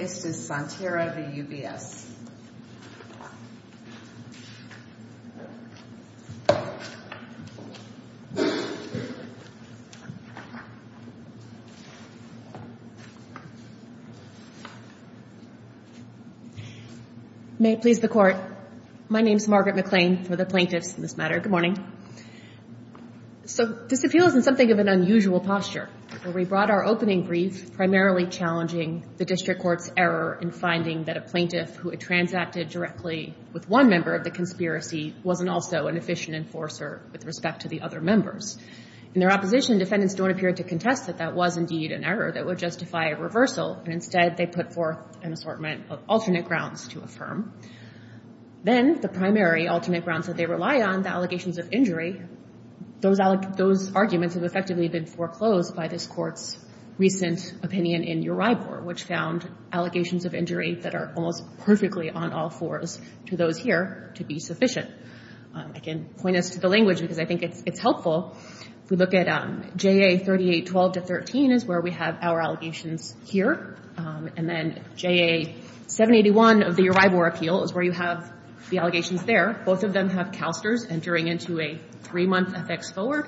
May it please the Court, my name is Margaret McLean for the Plaintiffs in this matter. Good morning. So this appeal is in something of an unusual posture where we brought our opening brief primarily challenging the District Court's error in finding that a plaintiff who had transacted directly with one member of the conspiracy wasn't also an efficient enforcer with respect to the other members. In their opposition, defendants don't appear to contest that that was indeed an error that would justify a reversal, and instead they put forth an assortment of alternate grounds to affirm. Then the primary alternate grounds that they rely on, the allegations of injury, those arguments have effectively been foreclosed by this Court's recent opinion in Uribor, which found allegations of injury that are almost perfectly on all fours to those here to be sufficient. I can point us to the language because I think it's helpful. If we look at JA 3812 to 13 is where we have our allegations here, and then JA 781 of the Uribor appeal is where you have the allegations there. Both of them have CalSTRS entering into a three-month FX forward.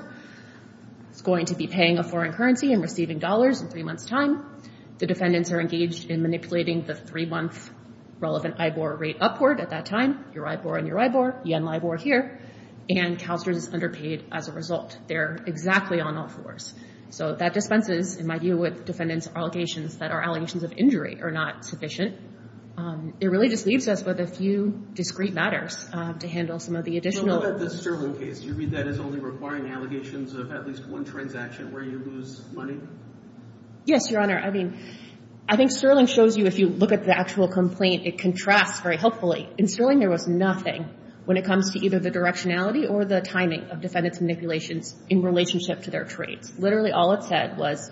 It's going to be paying a foreign currency and receiving dollars in three months' time. The defendants are engaged in manipulating the three-month relevant Ibor rate upward at that time, Uribor and Uribor, Yen-Libor here, and CalSTRS is underpaid as a result. They're exactly on all fours. So that dispenses, in my view, with defendants' allegations that our allegations of injury are not sufficient. It really just leaves us with a few discrete matters to handle some of the additional. But what about the Sterling case? Do you read that as only requiring allegations of at least one transaction where you lose money? Yes, Your Honor. I mean, I think Sterling shows you, if you look at the actual complaint, it contrasts very helpfully. In Sterling, there was nothing when it comes to either the directionality or the timing of defendants' manipulations in relationship to their trades. Literally all it said was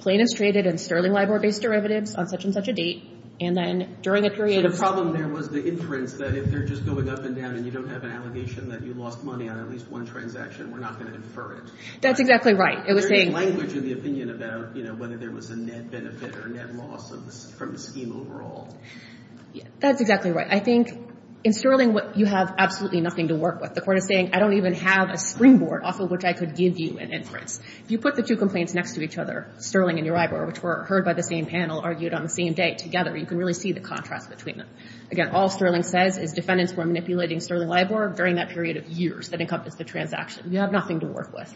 plaintiffs traded in Sterling LIBOR-based derivatives on such a date, and then during a period of time— So the problem there was the inference that if they're just going up and down and you don't have an allegation that you lost money on at least one transaction, we're not going to infer it. That's exactly right. It was saying— There was no language in the opinion about, you know, whether there was a net benefit or net loss from the scheme overall. That's exactly right. I think in Sterling, you have absolutely nothing to work with. The court is saying, I don't even have a springboard off of which I could give you an inference. If you put the two complaints next to each other, Sterling and Uribor, which were heard by the same panel, argued on the same date together, you can really see the contrast between them. Again, all Sterling says is defendants were manipulating Sterling LIBOR during that period of years that encompassed the transaction. You have nothing to work with.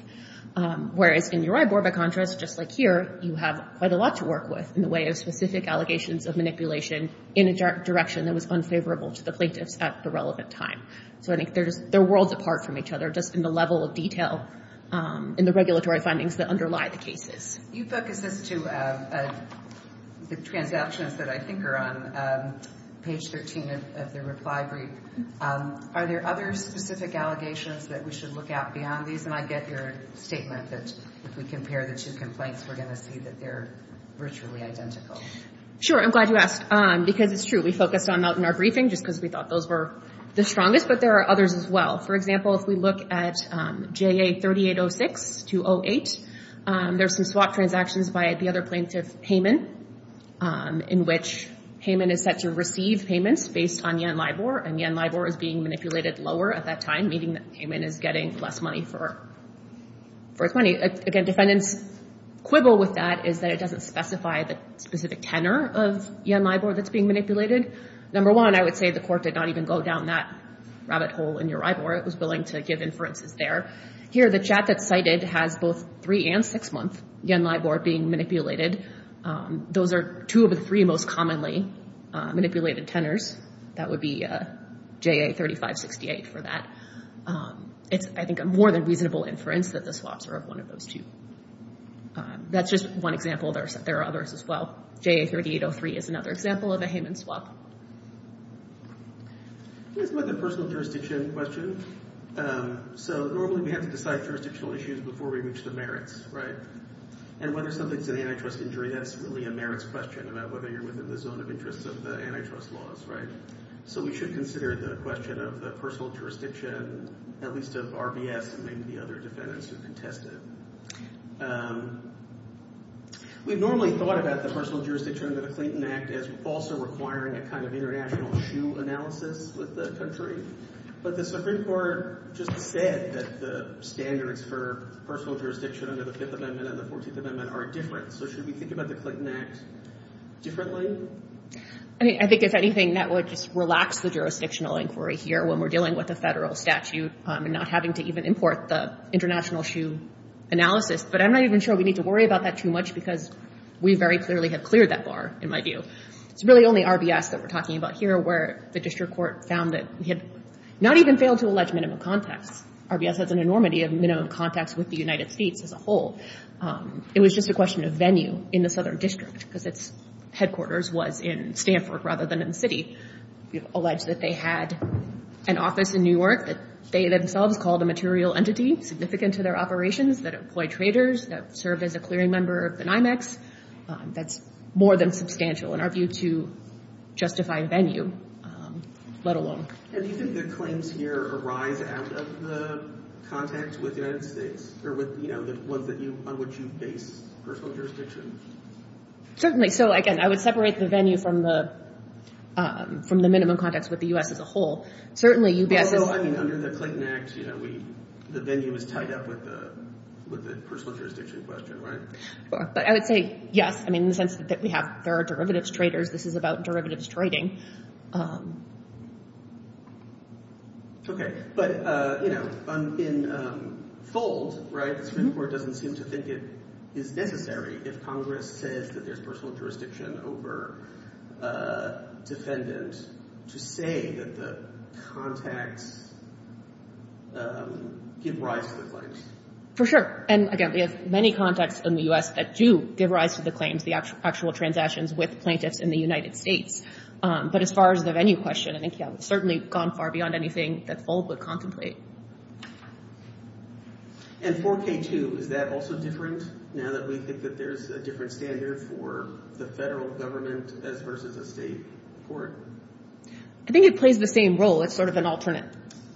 Whereas in Uribor, by contrast, just like here, you have quite a lot to work with in the way of specific allegations of manipulation in a direction that was unfavorable to the plaintiffs at the relevant time. So I think they're worlds apart from each other just in the level of detail in the regulatory findings that underlie the cases. You focus this to the transactions that I think are on page 13 of the reply brief. Are there other specific allegations that we should look at beyond these? And I get your statement that if we compare the two complaints, we're going to see that they're virtually identical. Sure. I'm glad you asked because it's true. We focused on that in our briefing just because we thought those were the strongest, but there are others as well. For example, if we look at JA-3806-208, there's some swap transactions by the other plaintiff Heyman in which Heyman is set to receive payments based on Yen LIBOR, and Yen LIBOR is being manipulated lower at that time, meaning that Heyman is getting less money for his money. Again, defendants' quibble with that is that it doesn't specify the specific tenor of Yen LIBOR that's being manipulated. Number one, I would say the court did not even go down that rabbit hole in your LIBOR. It was willing to give inferences there. Here, the chat that's cited has both three and six-month Yen LIBOR being manipulated. Those are two of the three most commonly manipulated tenors. That would be JA-3568 for that. It's, I think, a more than reasonable inference that the swaps are of one of those two. That's just one example. There are others as well. JA-3803 is another example of a Heyman swap. Let's look at the personal jurisdiction question. Normally, we have to decide jurisdictional issues before we reach the merits, right? Whether something's an antitrust injury, that's really a merits question about whether you're within the zone of interest of the antitrust laws, right? We should consider the question of the personal jurisdiction, at least of RBS and maybe the other defendants who contested. We've normally thought about the personal jurisdiction under the Clinton Act as also requiring a kind of international shoe analysis with the country. But the Supreme Court just said that the standards for personal jurisdiction under the Fifth Amendment and the Fourteenth Amendment are different. So should we think about the Clinton Act differently? I think, if anything, that would just relax the jurisdictional inquiry here when we're dealing with a federal statute and not having to even import the international shoe analysis. But I'm not even sure we need to worry about that too much because we very clearly have cleared that bar, in my view. It's really only RBS that we're talking about here where the district court found that we had not even failed to allege minimum contacts. RBS has an enormity of minimum contacts with the United States as a whole. It was just a question of venue in the Southern District because its headquarters was in Stanford rather than in the city. We've alleged that they had an office in New York that they themselves called a material entity significant to their operations that employed traders that served as a clearing member of the NYMEX. That's more than substantial in our view to justify venue, let alone. And do you think the claims here arise out of the contacts with the United States or with the ones on which you base personal jurisdiction? Certainly. So, again, I would separate the venue from the minimum contacts with the U.S. as a whole. Well, I mean, under the Clayton Act, the venue is tied up with the personal jurisdiction question, right? But I would say, yes, in the sense that there are derivatives traders. This is about derivatives trading. Okay. But in fold, the district court doesn't seem to think it is necessary if Congress says that there's personal jurisdiction over a defendant to say that the contacts give rise to the claims. For sure. And, again, we have many contacts in the U.S. that do give rise to the claims, the actual transactions with plaintiffs in the United States. But as far as the venue question, I think, yeah, we've certainly gone far beyond anything that fold would contemplate. And 4K2, is that also different now that we think that there's a different standard for the federal government as versus a state court? I think it plays the same role. It's sort of an alternate,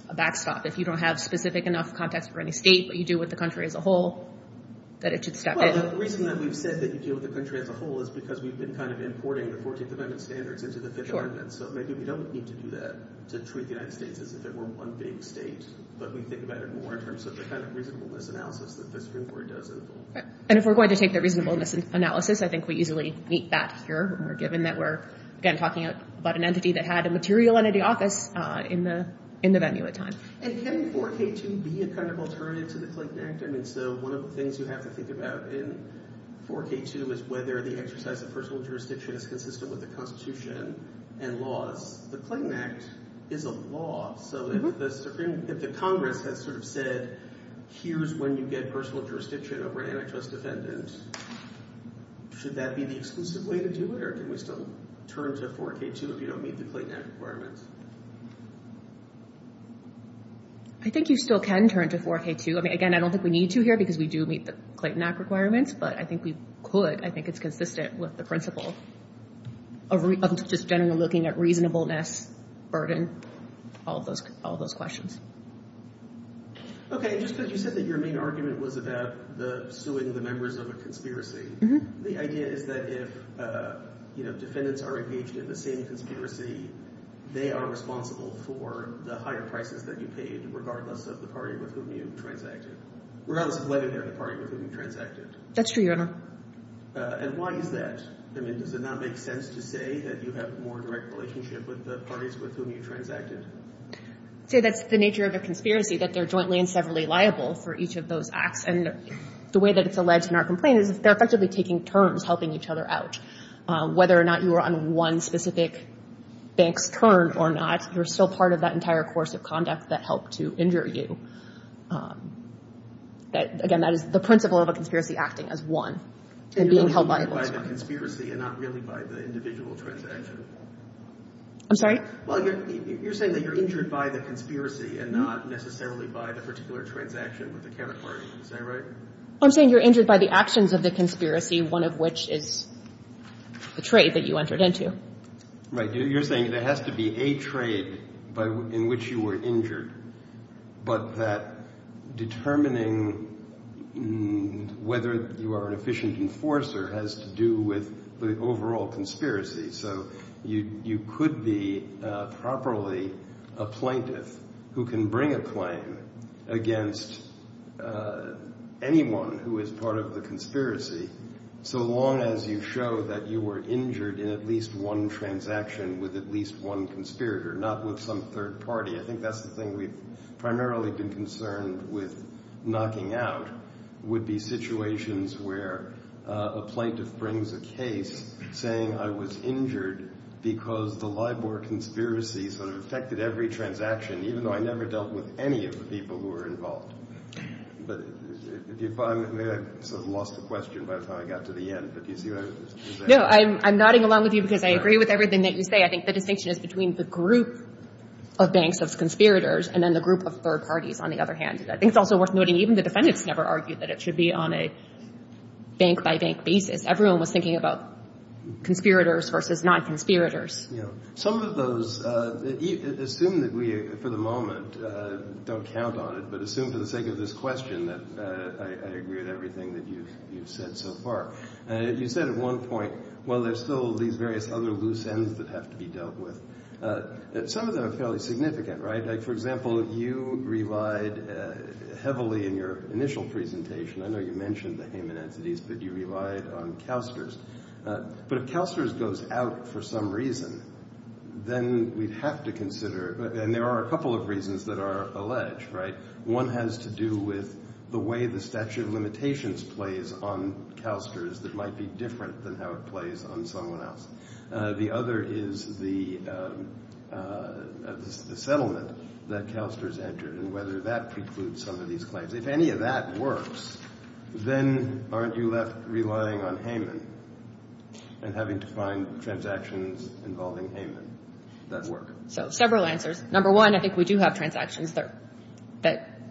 a backstop. If you don't have specific enough contacts for any state, but you deal with the country as a whole, that it should step in. Well, the reason that we've said that you deal with the country as a whole is because we've been kind of importing the 14th Amendment standards into the Fifth Amendment. So maybe we don't need to do that to treat the United States as if it were one big state. But we think about it more in terms of the kind of reasonableness analysis that the Supreme Court does involve. And if we're going to take the reasonableness analysis, I think we easily meet that here when we're given that we're, again, talking about an entity that had a material entity office in the venue at the time. And can 4K2 be a kind of alternative to the Clayton Act? I mean, so one of the things you have to think about in 4K2 is whether the exercise of personal jurisdiction is consistent with the Constitution and laws. The Clayton Act is a law. So if the Congress has sort of said, here's when you get personal jurisdiction over an antitrust defendant, should that be the exclusive way to do it? Or can we still turn to 4K2 if you don't meet the Clayton Act requirements? I think you still can turn to 4K2. I mean, again, I don't think we need to here because we do meet the Clayton Act requirements. But I think we could. I think it's consistent with the principle of just generally looking at reasonableness, burden, all of those questions. Okay. Just because you said that your main argument was about suing the members of a conspiracy, the idea is that if defendants are engaged in the same conspiracy, they are responsible for the higher prices that you paid regardless of the party with whom you transacted. Regardless of whether they're the party with whom you transacted. That's true, Your Honor. And why is that? I mean, does it not make sense to say that you have a more direct relationship with the parties with whom you transacted? See, that's the nature of a conspiracy, that they're jointly and severally liable for each of those acts. And the way that it's alleged in our complaint is they're effectively taking turns helping each other out. Whether or not you were on one specific bank's turn or not, you're still part of that entire course of conduct that helped to injure you. Again, that is the principle of a conspiracy, acting as one and being held liable as one. You're injured by the conspiracy and not really by the individual transaction. I'm sorry? Well, you're saying that you're injured by the conspiracy and not necessarily by the particular transaction with the counterparty. Is that right? I'm saying you're injured by the actions of the conspiracy, one of which is the trade that you entered into. Right. You're saying there has to be a trade in which you were injured, but that determining whether you are an efficient enforcer has to do with the overall conspiracy. So you could be properly a plaintiff who can bring a claim against anyone who is part of the conspiracy, so long as you show that you were injured in at least one transaction with at least one conspirator, not with some third party. I think that's the thing we've primarily been concerned with knocking out, would be situations where a plaintiff brings a case saying, I was injured because the LIBOR conspiracy sort of affected every transaction, even though I never dealt with any of the people who were involved. I lost the question by the time I got to the end, but do you see what I'm saying? No, I'm nodding along with you because I agree with everything that you say. I think the distinction is between the group of banks of conspirators and then the group of third parties, on the other hand. I think it's also worth noting even the defendants never argued that it should be on a bank-by-bank basis. Everyone was thinking about conspirators versus non-conspirators. Some of those, assume that we, for the moment, don't count on it, but assume for the sake of this question that I agree with everything that you've said so far. You said at one point, well, there's still these various other loose ends that have to be dealt with. Some of them are fairly significant, right? Like, for example, you relied heavily in your initial presentation, I know you mentioned the Hayman entities, but you relied on CalSTRS. But if CalSTRS goes out for some reason, then we'd have to consider, and there are a couple of reasons that are alleged, right? One has to do with the way the statute of limitations plays on CalSTRS that might be different than how it plays on someone else. The other is the settlement that CalSTRS entered and whether that precludes some of these claims. If any of that works, then aren't you left relying on Hayman and having to find transactions involving Hayman that work? So, several answers. Number one, I think we do have transactions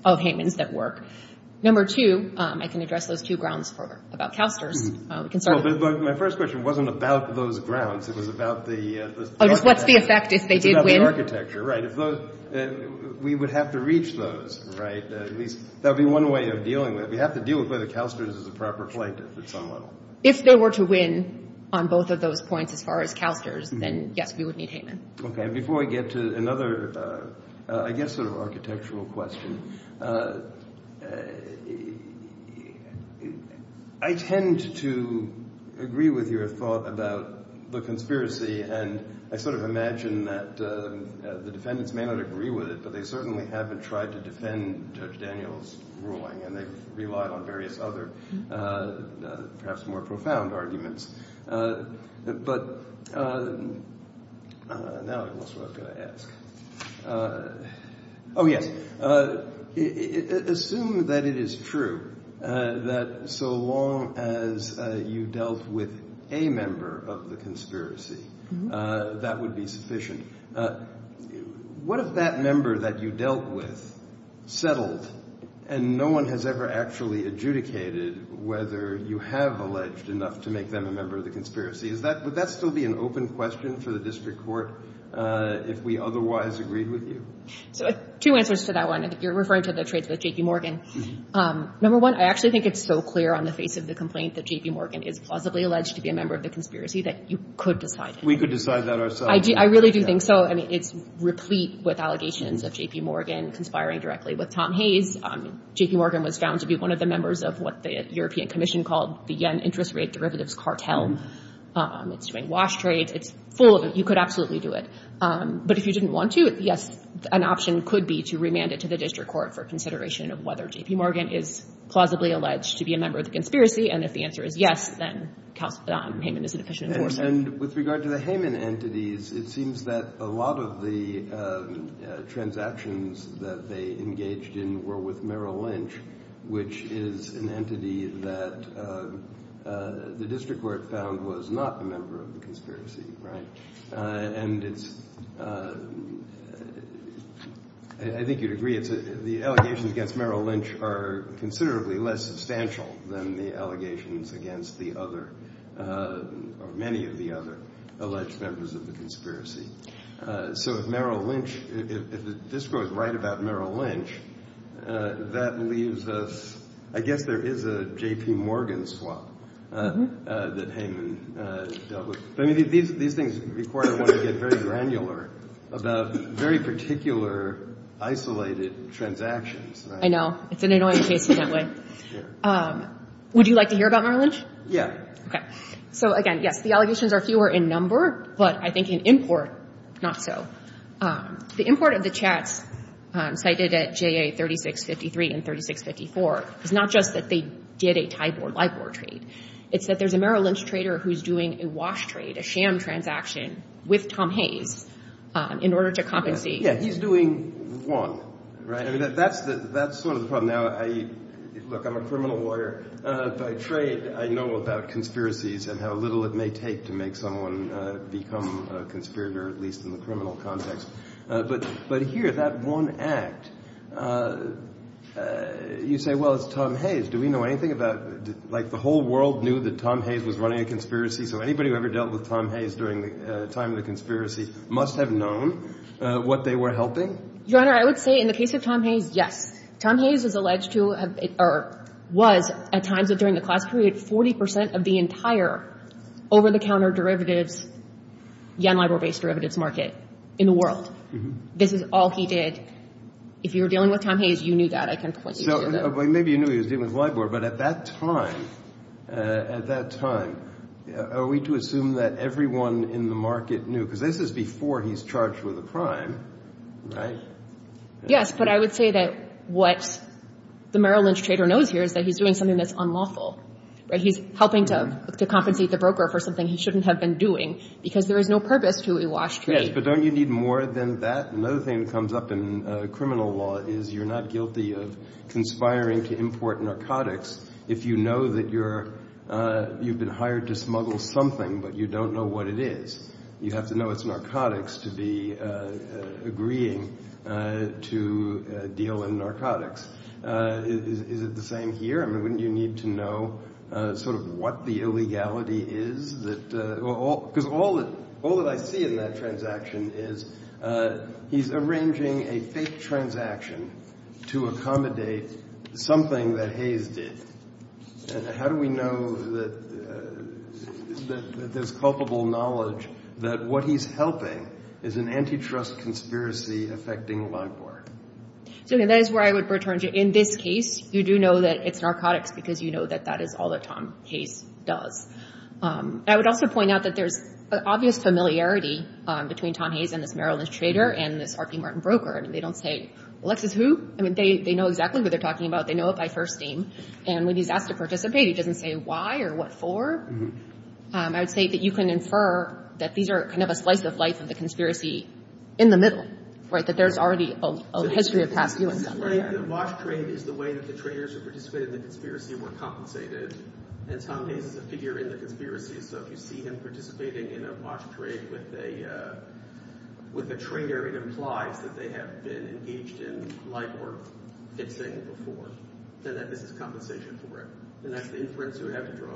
of Hayman's that work. Number two, I can address those two grounds about CalSTRS. My first question wasn't about those grounds, it was about the... Oh, just what's the effect if they did win? It's about the architecture, right? We would have to reach those, right? At least that would be one way of dealing with it. We have to deal with whether CalSTRS is a proper plaintiff at some level. If they were to win on both of those points as far as CalSTRS, then yes, we would need Hayman. Okay, before I get to another, I guess, sort of architectural question, I tend to agree with your thought about the conspiracy, and I sort of imagine that the defendants may not agree with it, but they certainly haven't tried to defend Judge Daniels' ruling, and they've relied on various other, perhaps more profound arguments. But, now I guess what I was going to ask. Oh, yes. Assume that it is true that so long as you dealt with a member of the conspiracy, that would be sufficient. What if that member that you dealt with settled, and no one has ever actually adjudicated whether you have alleged enough to make them a member of the conspiracy? Would that still be an open question for the district court if we otherwise agreed with you? So, two answers to that one. You're referring to the trades with J.P. Morgan. Number one, I actually think it's so clear on the face of the complaint that J.P. Morgan is plausibly alleged to be a member of the conspiracy that you could decide it. We could decide that ourselves. I really do think so. I mean, it's replete with allegations of J.P. Morgan conspiring directly with Tom Hayes. J.P. Morgan was found to be one of the members of what the European Commission called the Yen Interest Rate Derivatives Cartel. It's doing wash trades. It's full of it. You could absolutely do it. But if you didn't want to, yes, an option could be to remand it to the district court for consideration of whether J.P. Morgan is plausibly alleged to be a member of the conspiracy, and if the answer is yes, then Hayman is an efficient enforcer. And with regard to the Hayman entities, it seems that a lot of the transactions that they engaged in were with Merrill Lynch, which is an entity that the district court found was not a member of the conspiracy, right? And it's, I think you'd agree, the allegations against Merrill Lynch are considerably less substantial than the allegations against the other, or many of the other alleged members of the conspiracy. So if Merrill Lynch, if the district court is right about Merrill Lynch, that leaves us, I guess there is a J.P. Morgan swap that Hayman dealt with. These things require one to get very granular about very particular isolated transactions. I know. It's an annoying case in that way. Would you like to hear about Merrill Lynch? Yeah. Okay. So again, yes, the allegations are fewer in number, but I think in import, not so. The import of the chats cited at JA3653 and 3654 is not just that they did a tie board, lie board trade. It's that there's a Merrill Lynch trader who's doing a wash trade, a sham transaction with Tom Hayes in order to compensate. Yeah, he's doing one, right? That's sort of the problem now. Look, I'm a criminal lawyer. By trade, I know about conspiracies and how little it may take to make someone become a conspirator, at least in the criminal context. But here, that one act, you say, well, it's Tom Hayes. Do we know anything about... Like, the whole world knew that Tom Hayes was running a conspiracy, so anybody who ever dealt with Tom Hayes during the time of the conspiracy must have known what they were helping? Your Honor, I would say in the case of Tom Hayes, yes. Tom Hayes is alleged to have, or was, at times during the class period, 40% of the entire over-the-counter derivatives, Yan-Lai-Bo based derivatives market in the world. This is all he did. If you were dealing with Tom Hayes, you knew that. Maybe you knew he was dealing with lie board, but at that time, at that time, are we to assume that everyone in the market knew? Because this is before he's charged with a crime, right? Yes, but I would say that what the Merrill Lynch trader knows here is that he's doing something that's unlawful. He's helping to compensate the broker for something he shouldn't have been doing because there is no purpose to a wash trade. Yes, but don't you need more than that? Another thing that comes up in criminal law is you're not guilty of conspiring to import narcotics if you know that you've been hired to smuggle something, but you don't know what it is. You have to know it's narcotics to be agreeing to deal in narcotics. Is it the same here? I mean, wouldn't you need to know sort of what the illegality is? Because all that I see in that transaction is he's arranging a fake transaction to accommodate something that Hayes did. How do we know that there's culpable knowledge that what he's helping is an antitrust conspiracy affecting LIBOR? That is where I would return to. In this case, you do know that it's narcotics because you know that that is all that Tom Hayes does. I would also point out that there's an obvious familiarity between Tom Hayes and this Merrill Lynch trader and this R.P. Martin broker. They don't say, Alexis who? I mean, they know exactly who they're talking about. They know it by first name. And when he's asked to participate, he doesn't say why or what for. I would say that you can infer that these are kind of a slice of life of the conspiracy in the middle, right? That there's already a history of past doings. The wash trade is the way that the traders who participated in the conspiracy were compensated. And Tom Hayes is a figure in the conspiracy. So if you see him participating in a wash trade with a trader, it implies that they have been engaged in life or fixing before. Then this is compensation for it. And that's the inference you would have to draw.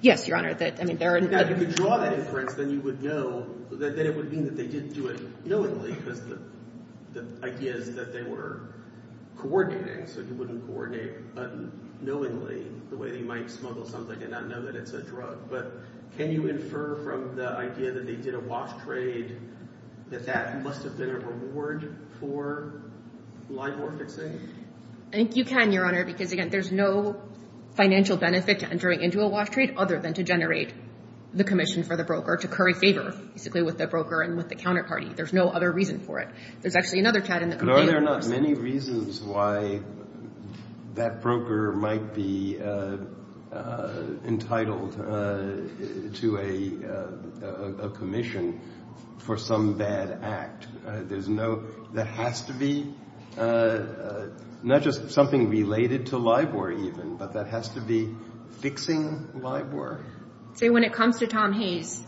Yes, Your Honor. If you could draw that inference, then you would know that it would mean that they didn't do it knowingly because the idea is that they were coordinating. So you wouldn't coordinate unknowingly the way that you might smuggle something and not know that it's a drug. But can you infer from the idea that they did a wash trade that that must have been a reward for life or fixing? I think you can, Your Honor, because, again, there's no financial benefit to entering into a wash trade other than to generate the commission for the broker to curry favor, basically, with the broker and with the counterparty. There's no other reason for it. There's actually another chat in the complaint. But are there not many reasons why that broker might be entitled to a commission for some bad act? There's no... That has to be not just something related to LIBOR, even, but that has to be fixing LIBOR. So when it comes to Tom Hayes,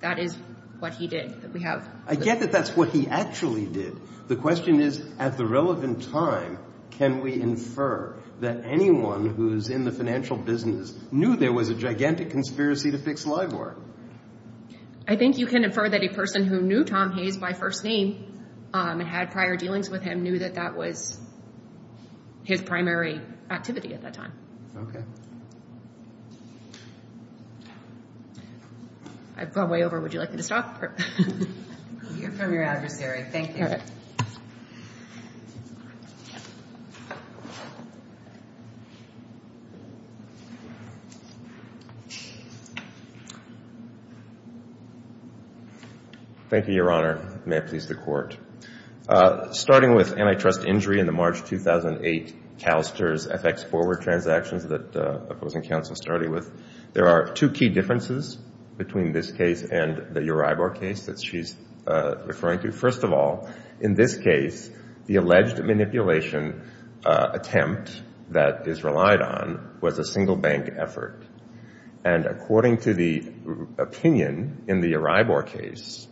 that is what he did, that we have... I get that that's what he actually did. The question is, at the relevant time, can we infer that anyone who's in the financial business knew there was a gigantic conspiracy to fix LIBOR? I think you can infer that a person who knew Tom Hayes by first name and had prior dealings with him knew that that was his primary activity at that time. I've gone way over. Would you like me to stop? You're from your adversary. Thank you. Thank you, Your Honor. May it please the Court. Starting with antitrust injury in the March 2008 CalSTRS FX forward transactions that opposing counsel started with, there are two key differences between this case and the Uribe case that she's referring to. First of all, in this case, the alleged manipulation attempt that is relied on was a single bank effort and according to the opinion in the Uribe case,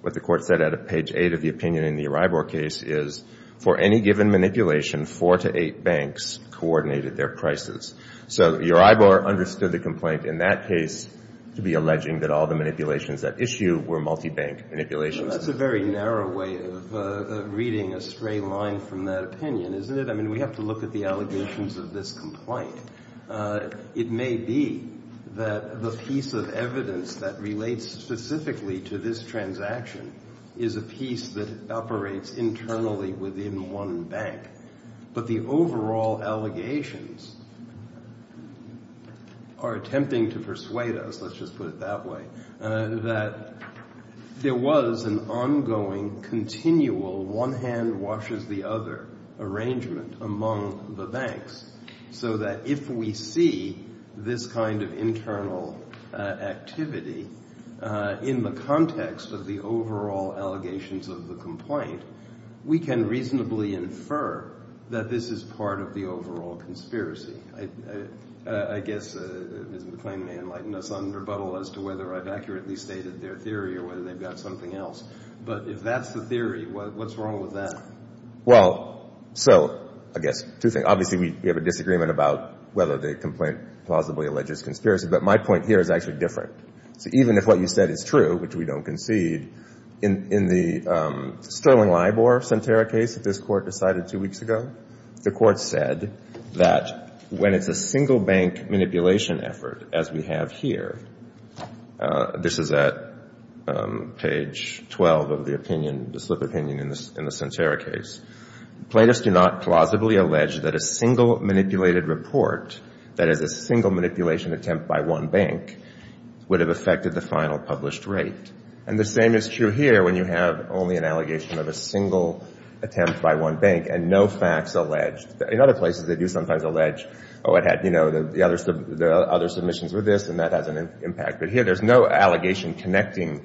what the Court said at page 8 of the opinion in the Uribe case is for any given manipulation, four to eight banks coordinated their prices. So Uribe understood the complaint in that case to be alleging that all the manipulations at issue were multi-bank manipulations. That's a very narrow way of reading a straight line from that opinion, isn't it? I mean, we have to look at the allegations of this complaint. It may be that the piece of evidence that relates specifically to this transaction is a piece that operates internally within one bank. But the overall allegations are attempting to persuade us, let's just put it that way, that there was an ongoing continual one hand washes the other arrangement among the banks so that if we see this kind of internal activity in the context of the overall allegations of the complaint, we can reasonably infer that this is part of the overall conspiracy. I guess Ms. McClain may enlighten us on rebuttal as to whether I've accurately stated their theory or whether they've got something else. But if that's the theory, what's wrong with that? Well, so I guess two things. Obviously, we have a disagreement about whether the complaint plausibly alleges conspiracy, but my point here is actually different. So even if what you said is true, which we don't concede, in the Sterling Libor-Santerra case that this Court decided two weeks ago, the Court said that when it's a single-bank manipulation effort, as we have here, this is at page 12 of the opinion, the slip opinion in the Santerra case, plaintiffs do not plausibly allege that a single manipulated report, that is, a single manipulation attempt by one bank, would have affected the final published rate. And the same is true here when you have only an allegation of a single attempt by one bank and no facts alleged. In other places, they do sometimes allege, oh, it had, you know, the other submissions were this, and that has an impact. But here, there's no allegation connecting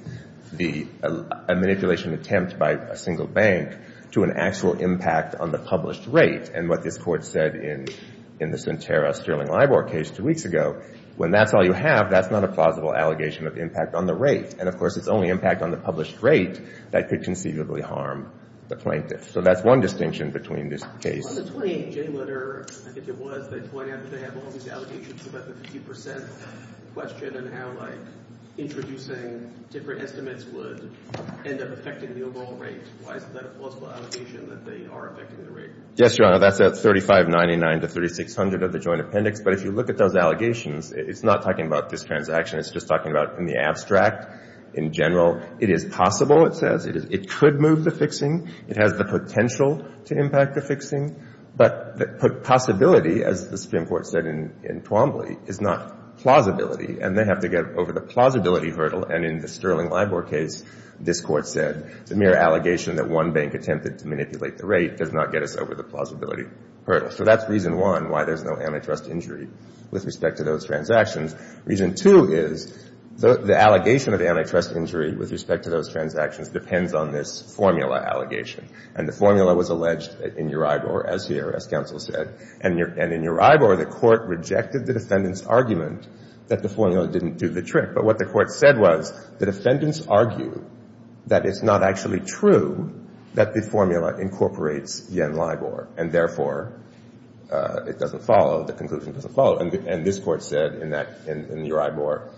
a manipulation attempt by a single bank to an actual impact on the published rate. And what this Court said in the Santerra-Sterling-Libor case two weeks ago, when that's all you have, that's not a plausible allegation of impact on the rate. And, of course, it's only impact on the published rate that could conceivably harm the plaintiff. So that's one distinction between this case. On the 28-J letter, I think it was, they point out that they have all these allegations about the 50% question and how, like, introducing different estimates would end up affecting the overall rate. Why isn't that a plausible allegation that they are affecting the rate? Yes, Your Honor, that's at 3599 to 3600 of the joint appendix. But if you look at those allegations, it's not talking about this transaction. It's just talking about in the abstract, in general. It is possible, it says. It could move the fixing. It has the potential to impact the fixing. But the possibility, as the Supreme Court said in Twombly, is not plausibility, and they have to get over the plausibility hurdle. And in the Sterling-Libor case, this Court said it's a mere allegation that one bank attempted to manipulate the rate does not get us over the plausibility hurdle. So that's reason one, why there's no antitrust injury with respect to those transactions. Reason two is the allegation of antitrust injury with respect to those transactions depends on this formula allegation. And the formula was alleged in Uribor, as here, as counsel said. And in Uribor, the Court rejected the defendant's argument that the formula didn't do the trick. But what the Court said was the defendants argue that it's not actually true that the formula incorporates Yen-Libor, and therefore it doesn't follow, the conclusion doesn't follow. And this Court said in Uribor,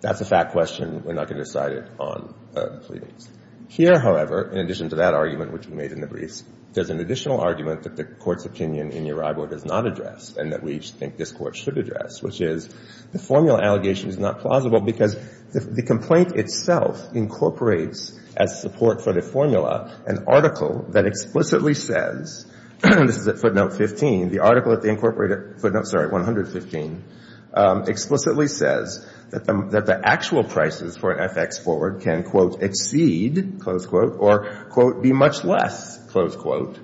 that's a fact question. We're not going to decide it on pleadings. Here, however, in addition to that argument, which we made in the briefs, there's an additional argument that the Court's opinion in Uribor does not address and that we think this Court should address, which is the formula allegation is not plausible because the complaint itself incorporates, as support for the formula, an article that explicitly says, this is at footnote 15, the article at the incorporated footnote, sorry, 115, explicitly says that the actual prices for FX forward can, quote, exceed, close quote, or, quote, be much less, close quote,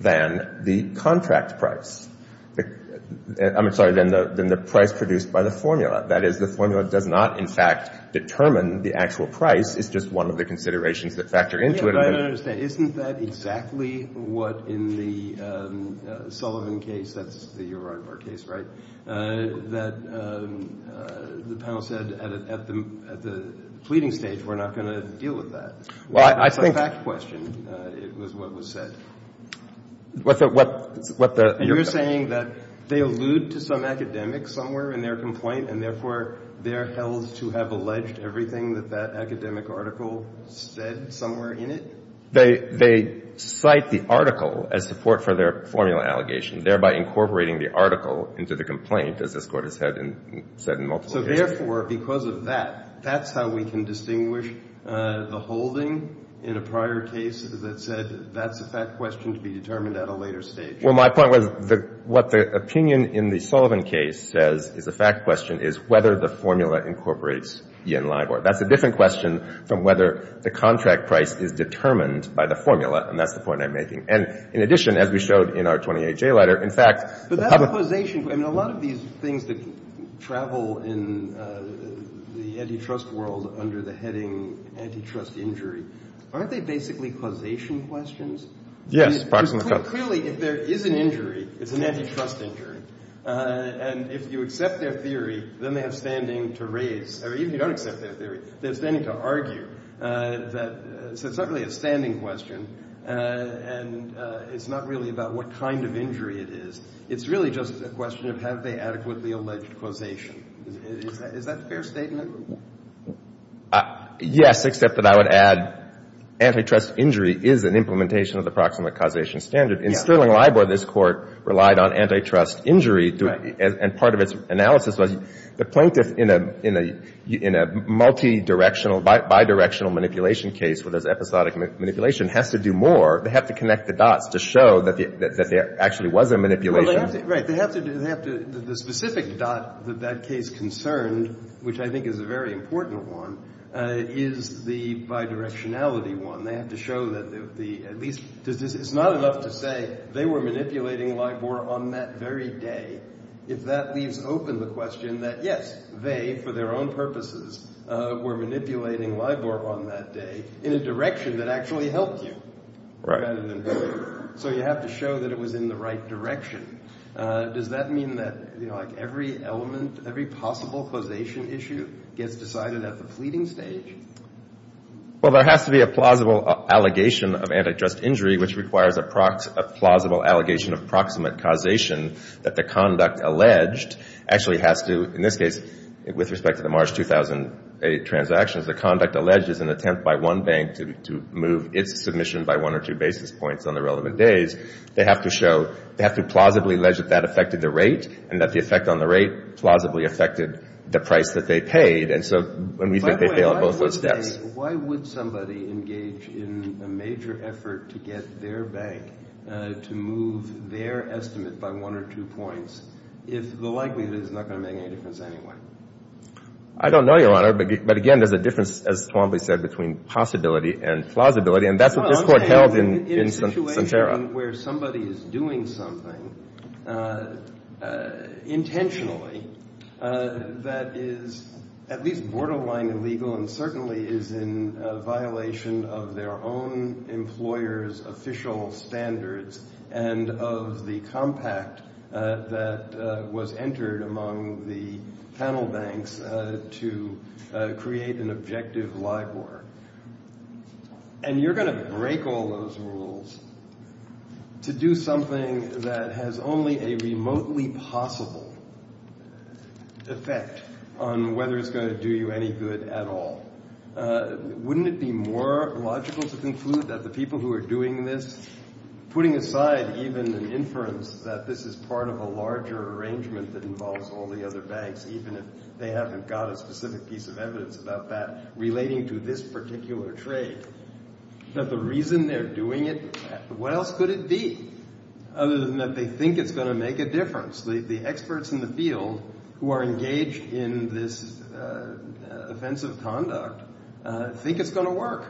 than the contract price. I'm sorry, than the price produced by the formula. That is, the formula does not, in fact, determine the actual price. It's just one of the considerations that factor into it. I understand. Isn't that exactly what in the Sullivan case, that's the Uribor case, right, that the panel said, at the pleading stage, we're not going to deal with that. Well, I think... It's a fact question, it was what was said. What the... You're saying that they allude to some academic somewhere in their complaint and therefore they're held to have alleged everything that that academic article said somewhere in it? They cite the article as support for their formula allegation, thereby incorporating the article into the complaint, as this Court has said in multiple cases. So therefore, because of that, that's how we can distinguish the holding in a prior case that said that's a fact question to be determined at a later stage. Well, my point was what the opinion in the Sullivan case says is a fact question is whether the formula incorporates E. N. Libor. That's a different question from whether the contract price is determined by the formula, and that's the point I'm making. And in addition, as we showed in our 28J letter, in fact... But that causation... I mean, a lot of these things that travel in the antitrust world under the heading antitrust injury, aren't they basically causation questions? Yes. Clearly, if there is an injury, it's an antitrust injury. And if you accept their theory, then they have standing to raise... Or even if you don't accept their theory, they have standing to argue that it's not really a standing question and it's not really about what kind of injury it is. It's really just a question of have they adequately alleged causation? Is that a fair statement? Yes, except that I would add antitrust injury is an implementation of the proximate causation standard. In Sterling Libor, this Court relied on antitrust injury and part of its analysis was the plaintiff in a multidirectional, bidirectional manipulation case where there's episodic manipulation has to do more. They have to connect the dots to show that there actually was a manipulation. Right, they have to... The specific dot that that case concerned, which I think is a very important one, is the bidirectionality one. They have to show that at least... It's not enough to say they were manipulating Libor on that very day. If that leaves open the question that, yes, they, for their own purposes, were manipulating Libor on that day in a direction that actually helped you rather than... So you have to show that it was in the right direction. Does that mean that every element, every possible causation issue gets decided at the pleading stage? Well, there has to be a plausible allegation of antitrust injury which requires a plausible allegation of proximate causation that the conduct alleged actually has to, in this case, with respect to the March 2008 transactions, the conduct alleged is an attempt by one bank to move its submission by one or two basis points on the relevant days. They have to show... They have to plausibly allege that that affected the rate and that the effect on the rate plausibly affected the price that they paid. And so when we think they failed both those steps... By the way, why would somebody engage in a major effort to get their bank to move their estimate by one or two points if the likelihood is not going to make any difference anyway? I don't know, Your Honor. But again, there's a difference, as Twombly said, between possibility and plausibility. And that's what this Court held in Santera. In a situation where somebody is doing something intentionally that is at least borderline illegal and certainly is in violation of their own employer's official standards and of the compact that was entered among the panel banks to create an objective LIBOR. And you're going to break all those rules to do something that has only a remotely possible effect on whether it's going to do you any good at all. Wouldn't it be more logical to conclude that the people who are doing this, putting aside even an inference that this is part of a larger arrangement that involves all the other banks, even if they haven't got a specific piece of evidence about that, relating to this particular trade, that the reason they're doing it, what else could it be other than that they think it's going to make a difference? The experts in the field who are engaged in this offensive conduct think it's going to work.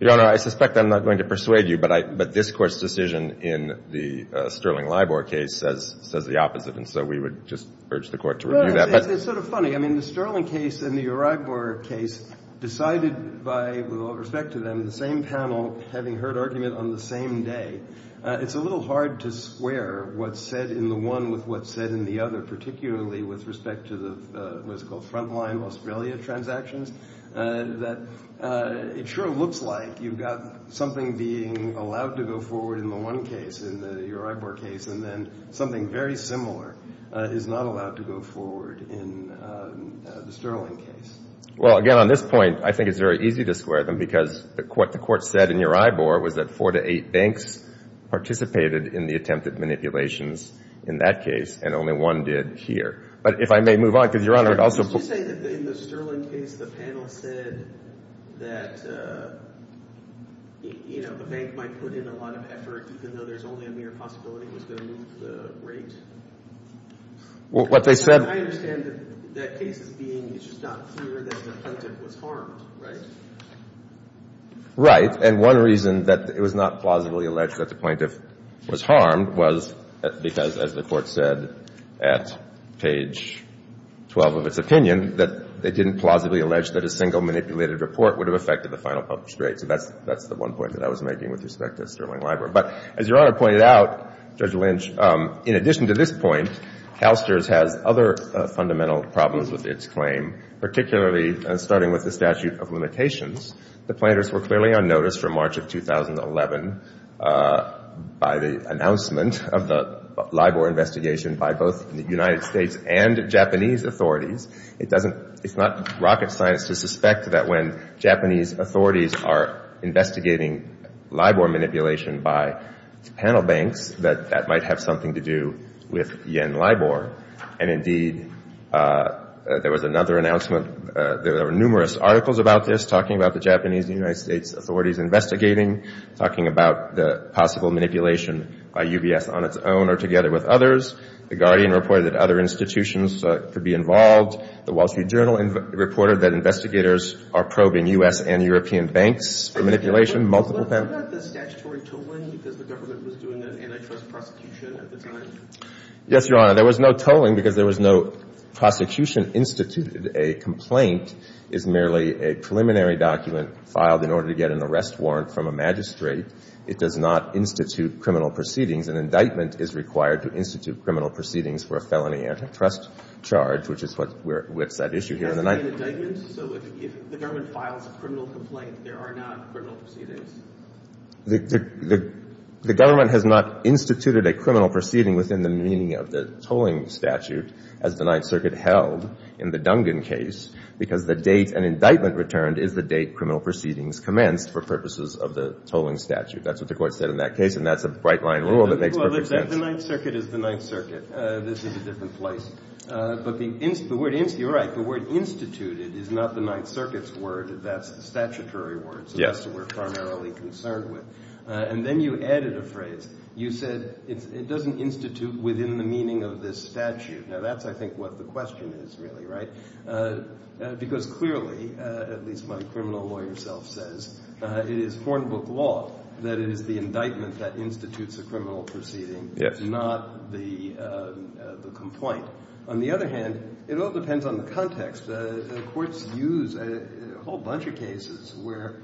Your Honor, I suspect I'm not going to persuade you, but this Court's decision in the Sterling LIBOR case says the opposite. And so we would just urge the Court to review that. It's sort of funny. I mean, the Sterling case and the Uragbor case decided by, with all respect to them, the same panel having heard argument on the same day. It's a little hard to square what's said in the one with what's said in the other, particularly with respect to the what's called front-line Australia transactions. It sure looks like you've got something being allowed to go forward in the one case, in the Uragbor case, and then something very similar is not allowed to go forward in the Sterling case. Well, again, on this point, I think it's very easy to square them because what the Court said in Uragbor was that four to eight banks participated in the attempted manipulations in that case, and only one did here. But if I may move on, because Your Honor, it also... Did you say that in the Sterling case the panel said that, you know, the bank might put in a lot of effort even though there's only a mere possibility it was going to move the rate? What they said... I understand that that case is being... It's just not clear that the plaintiff was harmed, right? Right. And one reason that it was not plausibly alleged that the plaintiff was harmed was because, as the Court said at page 12 of its opinion, that they didn't plausibly allege that a single manipulated report would have affected the final published rate. So that's the one point that I was making with respect to Sterling Library. But as Your Honor pointed out, Judge Lynch, in addition to this point, CalSTRS has other fundamental problems with its claim, particularly starting with the statute of limitations. The plaintiffs were clearly on notice from March of 2011 by the announcement of the LIBOR investigation by both the United States and Japanese authorities. It doesn't... It's not rocket science to suspect that when Japanese authorities are investigating LIBOR manipulation by panel banks that that might have something to do with Yen LIBOR. And indeed, there was another announcement. There were numerous articles about this, talking about the Japanese and United States authorities investigating, talking about the possible manipulation by UBS on its own or together with others. The Guardian reported that other institutions could be involved. The Wall Street Journal reported that investigators are probing U.S. and European banks for manipulation, multiple banks. Yes, Your Honor. There was no tolling because there was no prosecution instituted. A complaint is merely a preliminary document filed in order to get an arrest warrant from a magistrate. It does not institute criminal proceedings. An indictment is required to institute criminal proceedings for a felony antitrust charge, which is what whips that issue here. The government has not instituted a criminal proceeding within the meaning of the tolling statute as the Ninth Circuit held in the Dungan case because the date an indictment returned is the date criminal proceedings commenced for purposes of the tolling statute. That's what the Court said in that case, and that's a bright-line rule that makes perfect sense. Well, the Ninth Circuit is the Ninth Circuit. This is a different place. But you're right. The word instituted is not the Ninth Circuit's word. That's the statutory word. That's what we're primarily concerned with. And then you added a phrase. You said it doesn't institute within the meaning of this statute. Now, that's, I think, what the question is, really, right? Because clearly, at least my criminal lawyer self says, it is foreign book law that it is the indictment that institutes a criminal proceeding, not the complaint. On the other hand, it all depends on the context. The courts use a whole bunch of cases where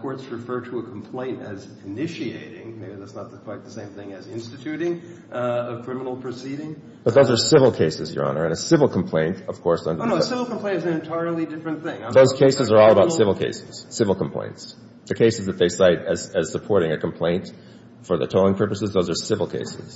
courts refer to a complaint as initiating. Maybe that's not quite the same thing as instituting a criminal proceeding. But those are civil cases, Your Honor, and a civil complaint, of course, under the statute. Oh, no, a civil complaint is an entirely different thing. Those cases are all about civil cases, civil complaints. The cases that they cite as supporting a complaint for the tolling purposes, those are civil cases,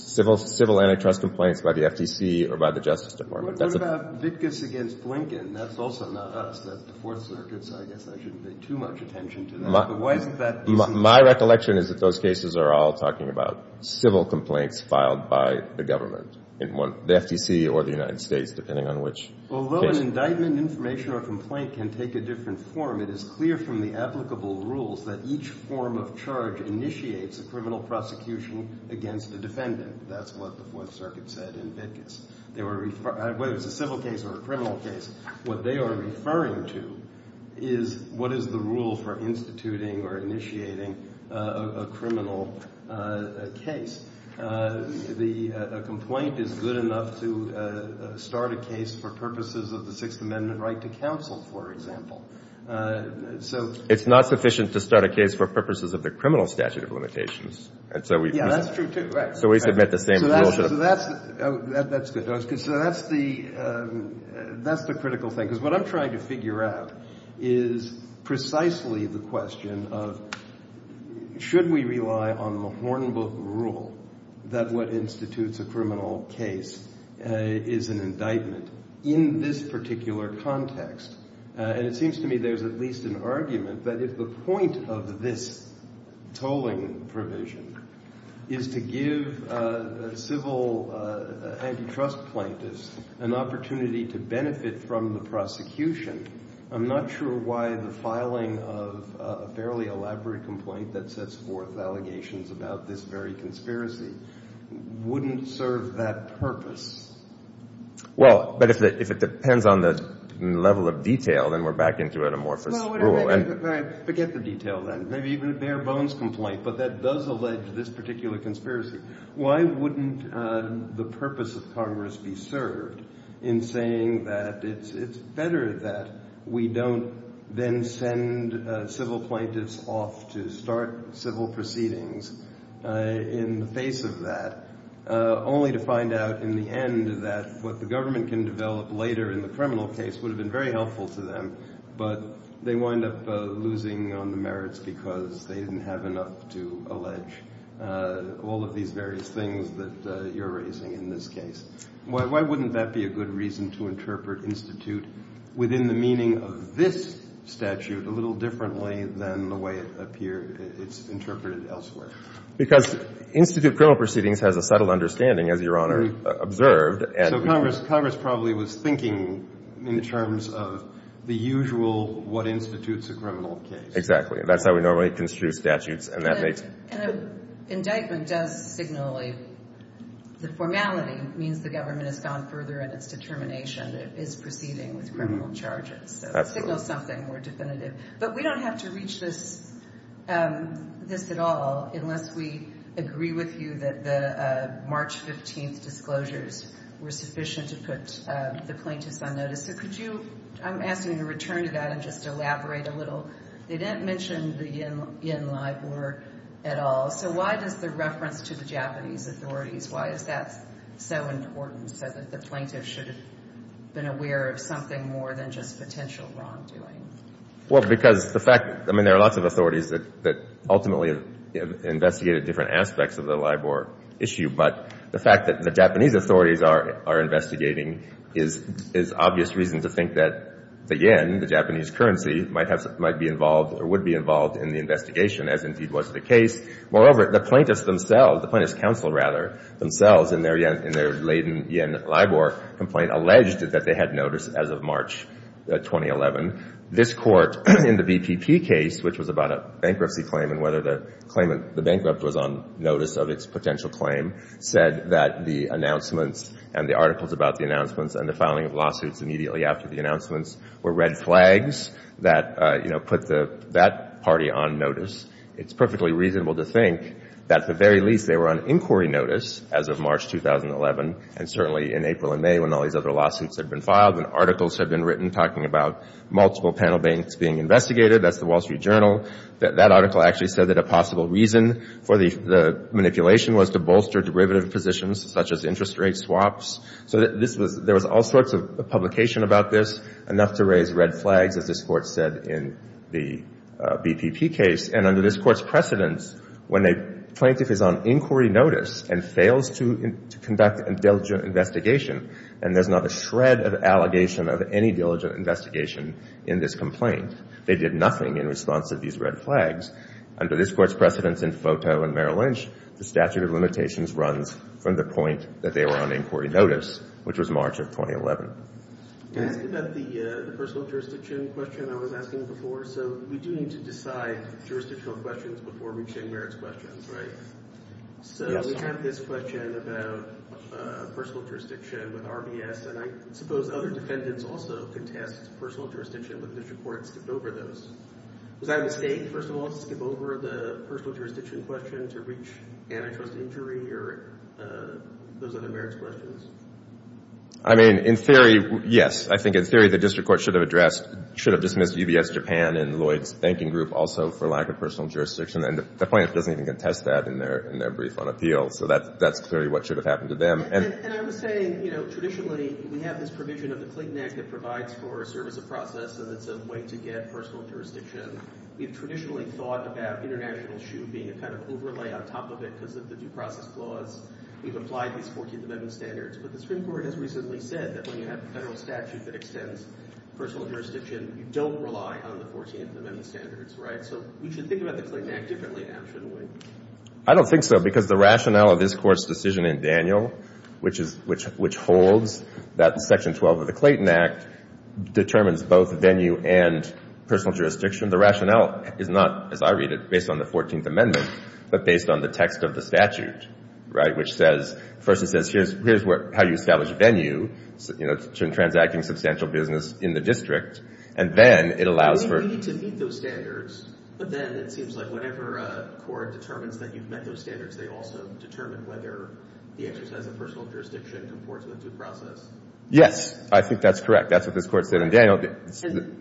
civil antitrust complaints by the FTC or by the Justice Department. What about Vitkus against Blinken? That's also not us. That's the Fourth Circuit, so I guess I shouldn't pay too much attention to that. My recollection is that those cases are all talking about civil complaints filed by the government, the FTC or the United States, depending on which case. Although an indictment, information, or complaint can take a different form, it is clear from the applicable rules that each form of charge initiates a criminal prosecution against the defendant. That's what the Fourth Circuit said in Vitkus. Whether it's a civil case or a criminal case, what they are referring to is what is the rule for instituting or initiating a criminal case. A complaint is good enough to start a case for purposes of the Sixth Amendment right to counsel, for example. It's not sufficient to start a case for purposes of the criminal statute of limitations. Yeah, that's true, too. So we submit the same rule. That's good. So that's the critical thing. Because what I'm trying to figure out is precisely the question of should we rely on the Hornbook rule that what institutes a criminal case is an indictment in this particular context? And it seems to me there's at least an argument that if the point of this tolling provision is to give civil antitrust plaintiffs an opportunity to benefit from the prosecution, I'm not sure why the filing of a fairly elaborate complaint that sets forth allegations about this very conspiracy wouldn't serve that purpose. Well, but if it depends on the level of detail, then we're back into an amorphous rule. Forget the detail, then. Maybe even a bare-bones complaint, but that does allege this particular conspiracy. Why wouldn't the purpose of Congress be served in saying that it's better that we don't then send civil plaintiffs off to start civil proceedings in the face of that, only to find out in the end that what the government can develop later in the criminal case would have been very helpful to them, but they wind up losing on the merits because they didn't have enough to allege all of these various things that you're raising in this case? Why wouldn't that be a good reason to interpret institute within the meaning of this statute a little differently than the way it's interpreted elsewhere? Because institute criminal proceedings has a subtle understanding, as Your Honor observed. So Congress probably was thinking in terms of the usual what institute's a criminal case. Exactly. That's how we normally construe statutes. An indictment does signal the formality means the government has gone further in its determination that it is proceeding with criminal charges. Signals something more definitive. But we don't have to reach this at all unless we agree with you that the March 15th disclosures were sufficient to put the plaintiffs on notice. I'm asking you to return to that and just elaborate a little. They didn't mention the yen LIBOR at all. So why does the reference to the Japanese authorities, why is that so important so that the plaintiffs should have been aware of something more than just potential wrongdoing? Well, because the fact... I mean, there are lots of authorities that ultimately have investigated different aspects of the LIBOR issue, but the fact that the Japanese authorities are investigating is obvious reason to think that the yen, the Japanese currency, might be involved or would be involved in the investigation, as indeed was the case. Moreover, the plaintiffs themselves, the plaintiffs' counsel, rather, themselves, in their latent yen LIBOR complaint, alleged that they had notice as of March 2011. This Court, in the BPP case, which was about a bankruptcy claim and whether the claimant, the bankrupt, was on notice of its potential claim, said that the announcements and the articles about the announcements and the filing of lawsuits immediately after the announcements were red flags that put that party on notice. It's perfectly reasonable to think that, at the very least, they were on inquiry notice as of March 2011 and certainly in April and May when all these other lawsuits had been filed and articles had been written talking about multiple panel banks being investigated. That's the Wall Street Journal. That article actually said that a possible reason for the manipulation was to bolster derivative positions such as interest rate swaps. So there was all sorts of publication about this, enough to raise red flags, as this Court said in the BPP case. And under this Court's precedence, when a plaintiff is on inquiry notice and fails to conduct a diligent investigation and there's not a shred of allegation of any diligent investigation in this complaint, they did nothing in response to these red flags. Under this Court's precedence in Foto and Merrill Lynch, the statute of limitations runs from the point that they were on inquiry notice, which was March of 2011. Can I ask about the personal jurisdiction question I was asking before? So we do need to decide jurisdictional questions before reaching merits questions, right? Yes. So we have this question about personal jurisdiction with RBS and I suppose other defendants also could test personal jurisdiction but the district court skipped over those. Was that a mistake, first of all, to skip over the personal jurisdiction question to reach antitrust injury or those other merits questions? I mean, in theory, yes. I think in theory, the district court should have addressed, should have dismissed UBS Japan and Lloyd's Banking Group also for lack of personal jurisdiction and the plaintiff doesn't even contest that in their brief on appeal. So that's clearly what should have happened to them. And I was saying, you know, traditionally we have this provision of the Clean Act that provides for a service of process and it's a way to get personal jurisdiction. We've traditionally thought about international issue being a kind of overlay on top of it because of the due process clause. We've applied these 14th Amendment standards but the Supreme Court has recently said that when you have a federal statute that extends personal jurisdiction, you don't rely on the 14th Amendment standards, right? So we should think about the Clayton Act differently now, shouldn't we? I don't think so because the rationale of this Court's decision in Daniel, which holds that Section 12 of the Clayton Act determines both venue and personal jurisdiction. The rationale is not, as I read it, based on the 14th Amendment but based on the text of the statute, right? Which says, first it says, here's how you establish venue, transacting substantial business in the district, and then it allows for... We need to meet those standards but then it seems like whenever a court determines that you've met those standards, they also determine whether the exercise of personal jurisdiction comports with due process. Yes, I think that's correct. That's what this Court said in Daniel.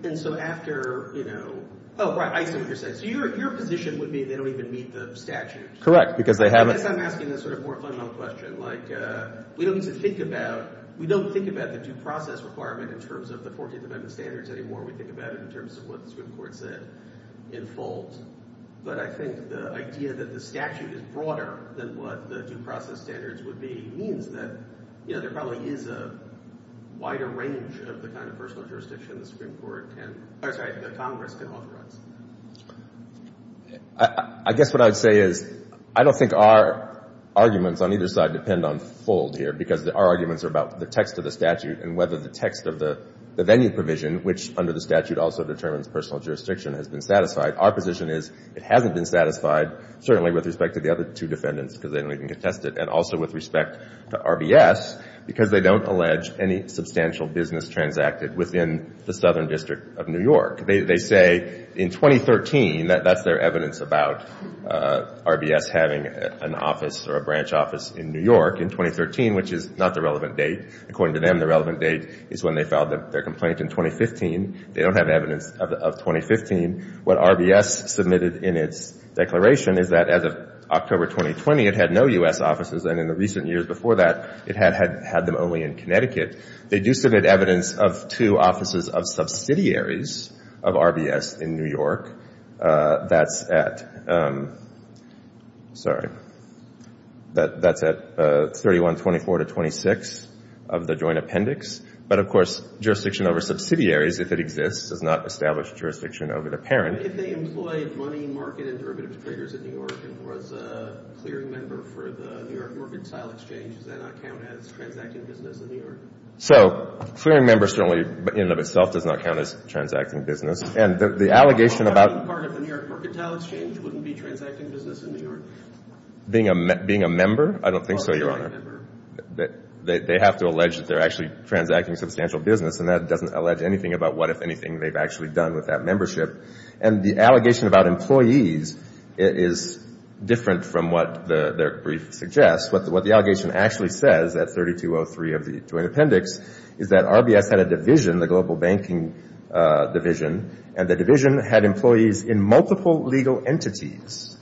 And so after, you know... Oh, right, I see what you're saying. So your position would be they don't even meet the statute. Correct, because they haven't... I guess I'm asking a sort of more fundamental question. Like, we don't need to think about... We don't think about the due process requirement in terms of the 14th Amendment standards anymore. We think about it in terms of what the Supreme Court said in full. But I think the idea that the statute is broader than what the due process standards would be means that, you know, there probably is a wider range of the kind of personal jurisdiction the Congress can authorize. I guess what I would say is I don't think our arguments on either side depend on fold here because our arguments are about the text of the statute and whether the text of the venue provision, which under the statute also determines personal jurisdiction, has been satisfied. Our position is it hasn't been satisfied certainly with respect to the other two defendants because they don't even contest it and also with respect to RBS because they don't allege any substantial business transacted within the Southern District of New York. They say in 2013, that's their evidence about RBS having an office or a branch office in New York in 2013, which is not the relevant date. According to them, the relevant date is when they filed their complaint in 2015. They don't have evidence of 2015. What RBS submitted in its declaration is that as of October 2020, it had no U.S. offices and in the recent years before that, it had them only in Connecticut. They do submit evidence of two offices of subsidiaries of RBS in New York. That's at... Sorry. That's at 3124-26 of the joint appendix. But of course, jurisdiction over subsidiaries, if it exists, does not establish jurisdiction over the parent. If they employed money market and derivatives traders in New York and was a clearing member for the New York Mortgage Tile Exchange, does that not count as transacting business in New York? So, clearing member certainly in and of itself does not count as transacting business. And the allegation about... Part of the New York Mortgage Tile Exchange wouldn't be transacting business in New York? Being a member? I don't think so, Your Honor. They have to allege that they're actually transacting substantial business and that doesn't allege anything about what, if anything, they've actually done with that membership. And the allegation about employees is different from what their brief suggests. What the allegation actually says at 3203 of the joint appendix is that RBS had a division, the Global Banking Division, and the division had employees in multiple legal entities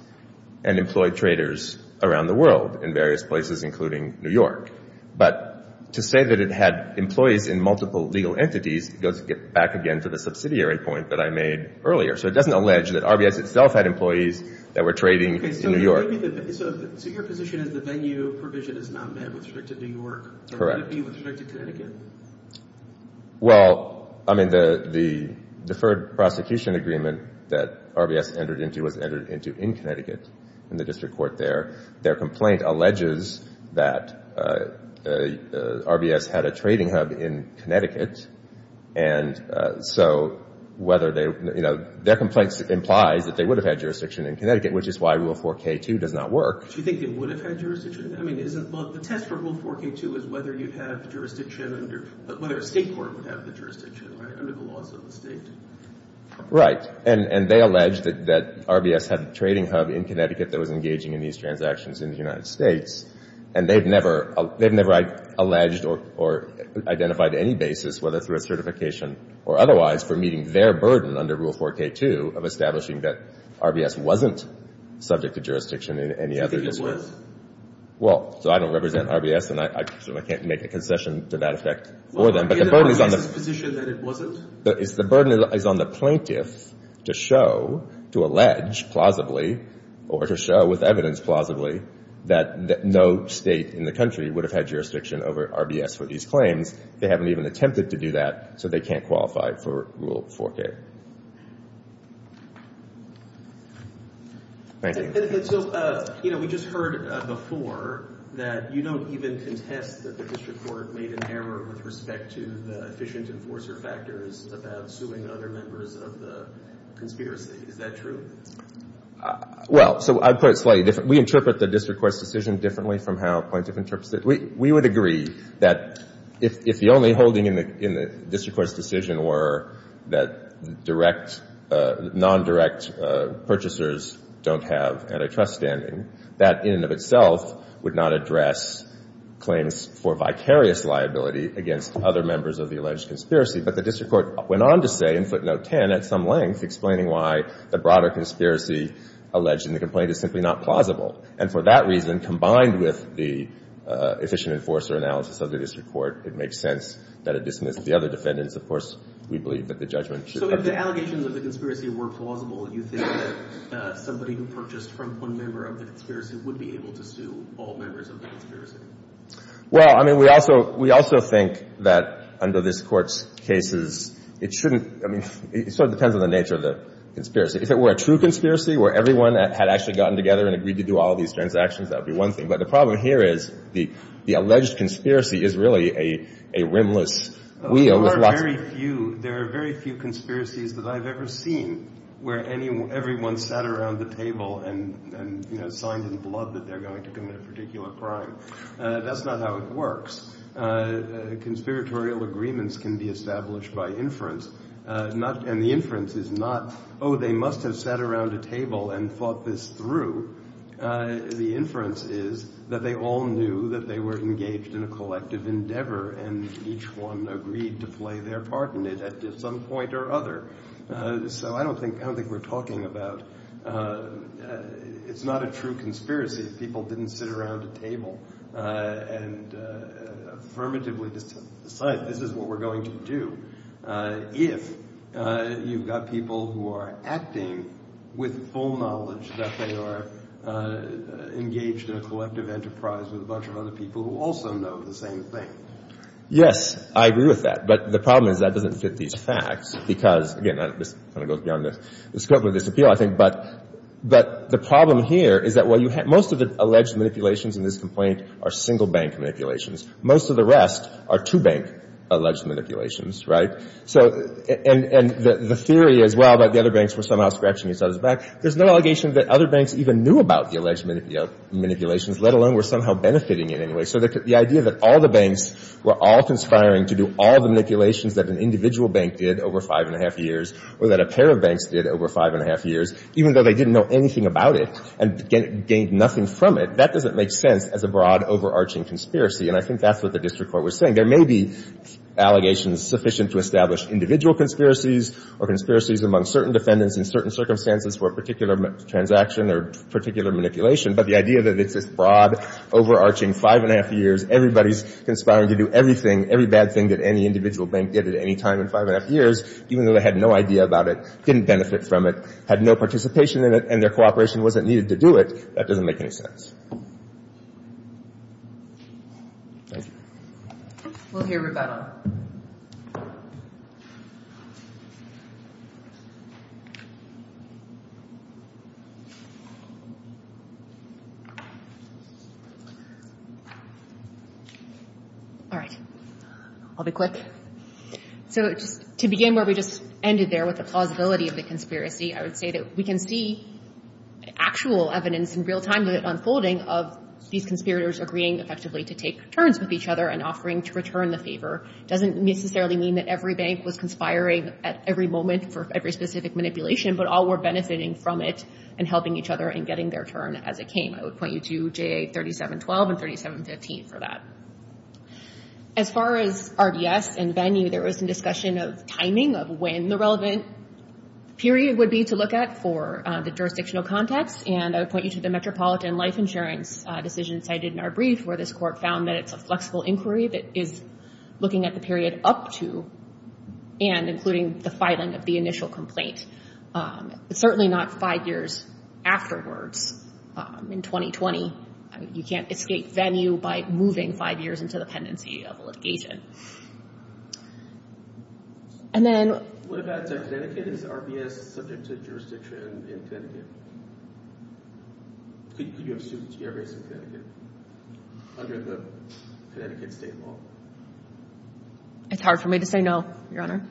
and employed traders around the world in various places, including New York. But to say that it had employees in multiple legal entities goes back again to the subsidiary point that I made earlier. So it doesn't allege that RBS itself had employees that were trading in New York. So your position is the venue provision is not met with respect to New York? Correct. Or would it be with respect to Connecticut? Well, I mean, the deferred prosecution agreement that RBS entered into was entered into in Connecticut in the district court there. Their complaint alleges that RBS had a trading hub in Connecticut. And so whether they, you know, their complaint implies that they would have had jurisdiction in Connecticut, which is why Rule 4k-2 does not work. Do you think they would have had jurisdiction? I mean, isn't... Well, the test for Rule 4k-2 is whether you'd have jurisdiction under... whether a state court would have the jurisdiction under the laws of the state. Right. And they allege that RBS had a trading hub in Connecticut that was engaging in these transactions in the United States. And they've never alleged or identified any basis, whether through a certification or otherwise, for meeting their burden under Rule 4k-2 of establishing that RBS wasn't subject to jurisdiction in any other district. Well, so I don't represent RBS, and I certainly can't make a concession to that effect for them. But the burden is on the... Is RBS's position that it wasn't? The burden is on the plaintiff to show, to allege plausibly, or to show with evidence plausibly, that no state in the country would have had jurisdiction over RBS for these claims. They haven't even attempted to do that, so they can't qualify for Rule 4k. Thank you. And so, you know, we just heard before that you don't even contest that the district court made an error with respect to the efficient enforcer factors about suing other members of the conspiracy. Is that true? Well, so I'd put it slightly different. We interpret the district court's decision differently from how plaintiff interprets it. We would agree that if the only holding in the district court's decision were that direct... non-direct purchasers don't have antitrust standing, that, in and of itself, would not address claims for vicarious liability against other members of the alleged conspiracy. But the district court went on to say, in footnote 10, at some length, explaining why the broader conspiracy alleged in the complaint is simply not plausible. And for that reason, combined with the efficient enforcer analysis of the district court, it makes sense that it dismissed the other defendants. Of course, we believe that the judgment should... So if the allegations of the conspiracy were plausible, you think that somebody who purchased from one member of the conspiracy would be able to sue all members of the conspiracy? Well, I mean, we also think that under this court's cases, it shouldn't... I mean, it sort of depends on the nature of the conspiracy. If it were a true conspiracy where everyone had actually gotten together and agreed to do all these transactions, that would be one thing. But the problem here is the alleged conspiracy is really a rimless wheel with lots... There are very few conspiracies that I've ever seen where everyone sat around the table and signed in blood that they're going to commit a particular crime. That's not how it works. Conspiratorial agreements can be established by inference. And the inference is not, oh, they must have sat around a table and thought this through. The inference is that they all knew that they were engaged in a collective endeavor and each one agreed to play their part in it at some point or other. So I don't think we're talking about... It's not a true conspiracy if people didn't sit around a table and affirmatively decide this is what we're going to do if you've got people who are acting with full knowledge that they are engaged in a collective enterprise with a bunch of other people who also know the same thing. Yes, I agree with that. But the problem is that doesn't fit these facts because, again, this kind of goes beyond the scope of this appeal, I think, but the problem here is that most of the alleged manipulations in this complaint are single bank manipulations. Most of the rest are two bank alleged manipulations, right? So... And the theory as well that the other banks were somehow scratching each other's back, there's no allegation that other banks even knew about the alleged manipulations, let alone were somehow benefiting in any way. So the idea that all the banks were all conspiring to do all the manipulations that an individual bank did over five and a half years or that a pair of banks did over five and a half years, even though they didn't know anything about it and gained nothing from it, that doesn't make sense as a broad, overarching conspiracy. And I think that's what the district court was saying. There may be allegations sufficient to establish individual conspiracies or conspiracies among certain defendants in certain circumstances for a particular transaction or particular manipulation, but the idea that it's this broad, overarching, five and a half years, everybody's conspiring to do everything, every bad thing that any individual bank did at any time in five and a half years, even though they had no idea about it, didn't benefit from it, had no participation in it, and their cooperation wasn't needed to do it, that doesn't make any sense. Thank you. We'll hear rebuttal. All right. I'll be quick. So, to begin where we just ended there with the plausibility of the conspiracy, I would say that we can see actual evidence in real time, the unfolding of these conspirators agreeing effectively to take turns with each other and offering to return the favor doesn't necessarily mean that every bank was conspiring at every moment for every specific manipulation, but all were benefiting from it and helping each other in getting their turn as it came. I would point you to J.A. 3712 and 3715 for that. As far as RDS and venue, there was some discussion of timing of when the relevant period would be to look at for the jurisdictional context, and I would point you to the Metropolitan Life Insurance decision cited in our brief where this court found that it's a flexible inquiry that is looking at the period up to and including the filing of the initial complaint. Certainly not five years afterwards in 2020. You can't escape venue by moving five years into the pendency of litigation. And then... What about Connecticut? Is RDS subject to jurisdiction in Connecticut? Could you have sued RDS in Connecticut under the Connecticut state law? It's hard for me to say no, Your Honor. Your Honor?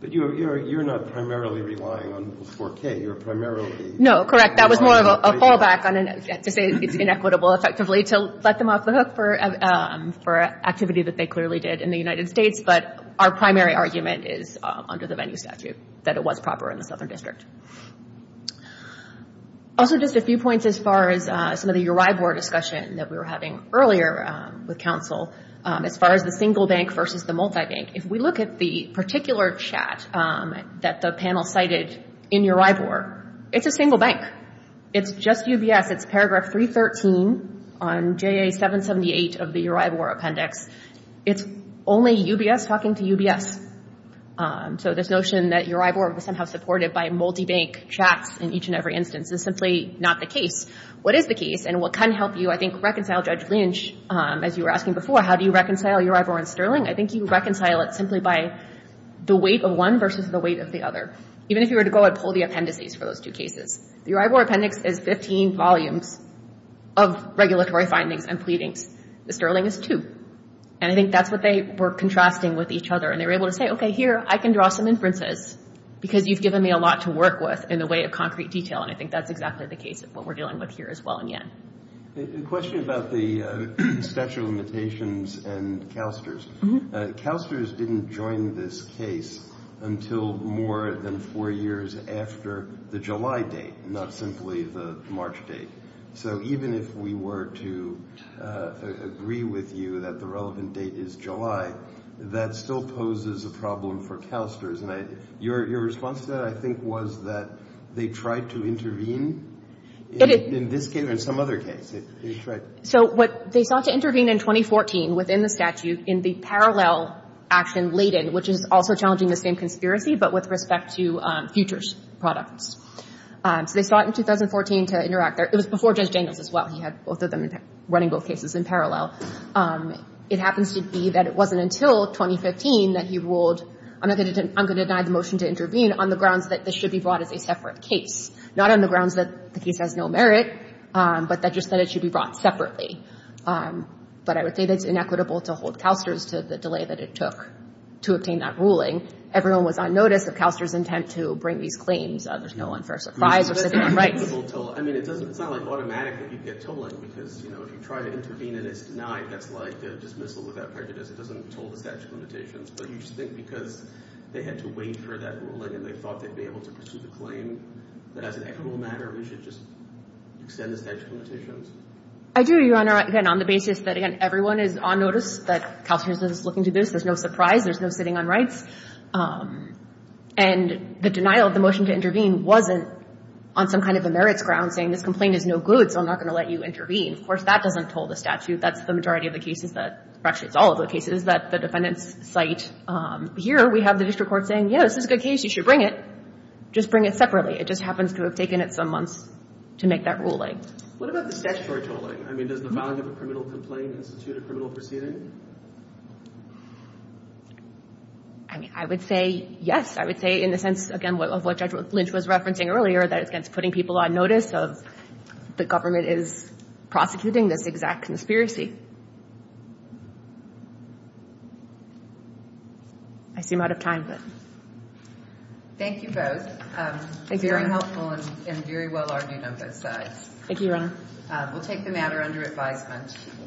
But you're not primarily relying on 4K. You're primarily... No, correct. That was more of a fallback to say it's inequitable effectively to let them off the hook for an activity that they clearly did in the United States, but our primary argument is under the venue statute that it was proper in the Southern District. Also just a few points as far as some of the URI board discussion that we were having earlier with counsel as far as the single bank versus the multibank. If we look at the particular chat that the panel cited in URI board, it's a single bank. It's just UBS. It's paragraph 313 on JA-778 of the URI board appendix. It's only UBS talking to UBS. So this notion that URI board was somehow supported by multibank chats in each and every instance is simply not the case. What is the case? And what can help you, I think, reconcile Judge Lynch, as you were asking before, how do you reconcile URI board and Sterling? I think you reconcile it simply by the weight of one versus the weight of the other. Even if you were to go ahead and pull the appendices for those two cases. The URI board appendix is 15 volumes of regulatory findings and pleadings. The Sterling is two. And I think that's what they were contrasting with each other, and they were able to say, okay, here, I can draw some inferences because you've given me a lot to work with in the way of concrete detail, and I think that's exactly the case of what we're dealing with here as well in Yann. A question about the statute of limitations and CalSTRS. CalSTRS didn't join this case until more than four years after the July date, not simply the March date. So even if we were to agree with you that the relevant date is July, that still poses a problem for CalSTRS. Your response to that, I think, was that they tried to intervene in this case or in some other case. So what they sought to intervene in 2014 within the statute in the parallel action laden, which is also challenging the same conspiracy, but with respect to futures products. So they sought in 2014 to interact. It was before Judge Daniels as well. He had both of them running both cases in parallel. It happens to be that it wasn't until 2015 that he ruled, I'm going to deny the motion to intervene on the grounds that this should be brought as a separate case. Not on the grounds that the case has no merit, but just that it should be brought separately. But I would say that it's inequitable to hold CalSTRS to the delay that it took to obtain that ruling. Everyone was on notice of CalSTRS' intent to bring these claims. There's no unfair surprise or significant rights. It's not like automatic if you get tolling, because if you try to intervene and it's denied, that's like a dismissal without prejudice. It doesn't toll the statute of limitations. But you should think because they had to wait for that ruling, and they thought they'd be able to pursue the claim, that as an equitable matter, we should just extend the statute of limitations. I do, Your Honor. Again, on the basis that, again, everyone is on notice that CalSTRS is looking to this. There's no surprise. There's no sitting on rights. And the denial of the motion to intervene wasn't on some kind of a merits ground, saying this complaint is no good, so I'm not going to let you intervene. Of course, that doesn't toll the statute. That's the majority of the cases that, or actually, it's all of the cases that the defendants cite. But here, we have the district court saying, yes, this is a good case. You should bring it. Just bring it separately. It just happens to have taken it some months to make that ruling. What about the statutory tolling? I mean, does the filing of a criminal complaint institute a criminal proceeding? I mean, I would say yes. I would say in the sense, again, of what Judge Lynch was referencing earlier, that it's against putting people on notice of the government is prosecuting this exact conspiracy. I seem out of time, but. Thank you both. Very helpful and very well argued on both sides. Thank you, Your Honor. We'll take the matter under advisement.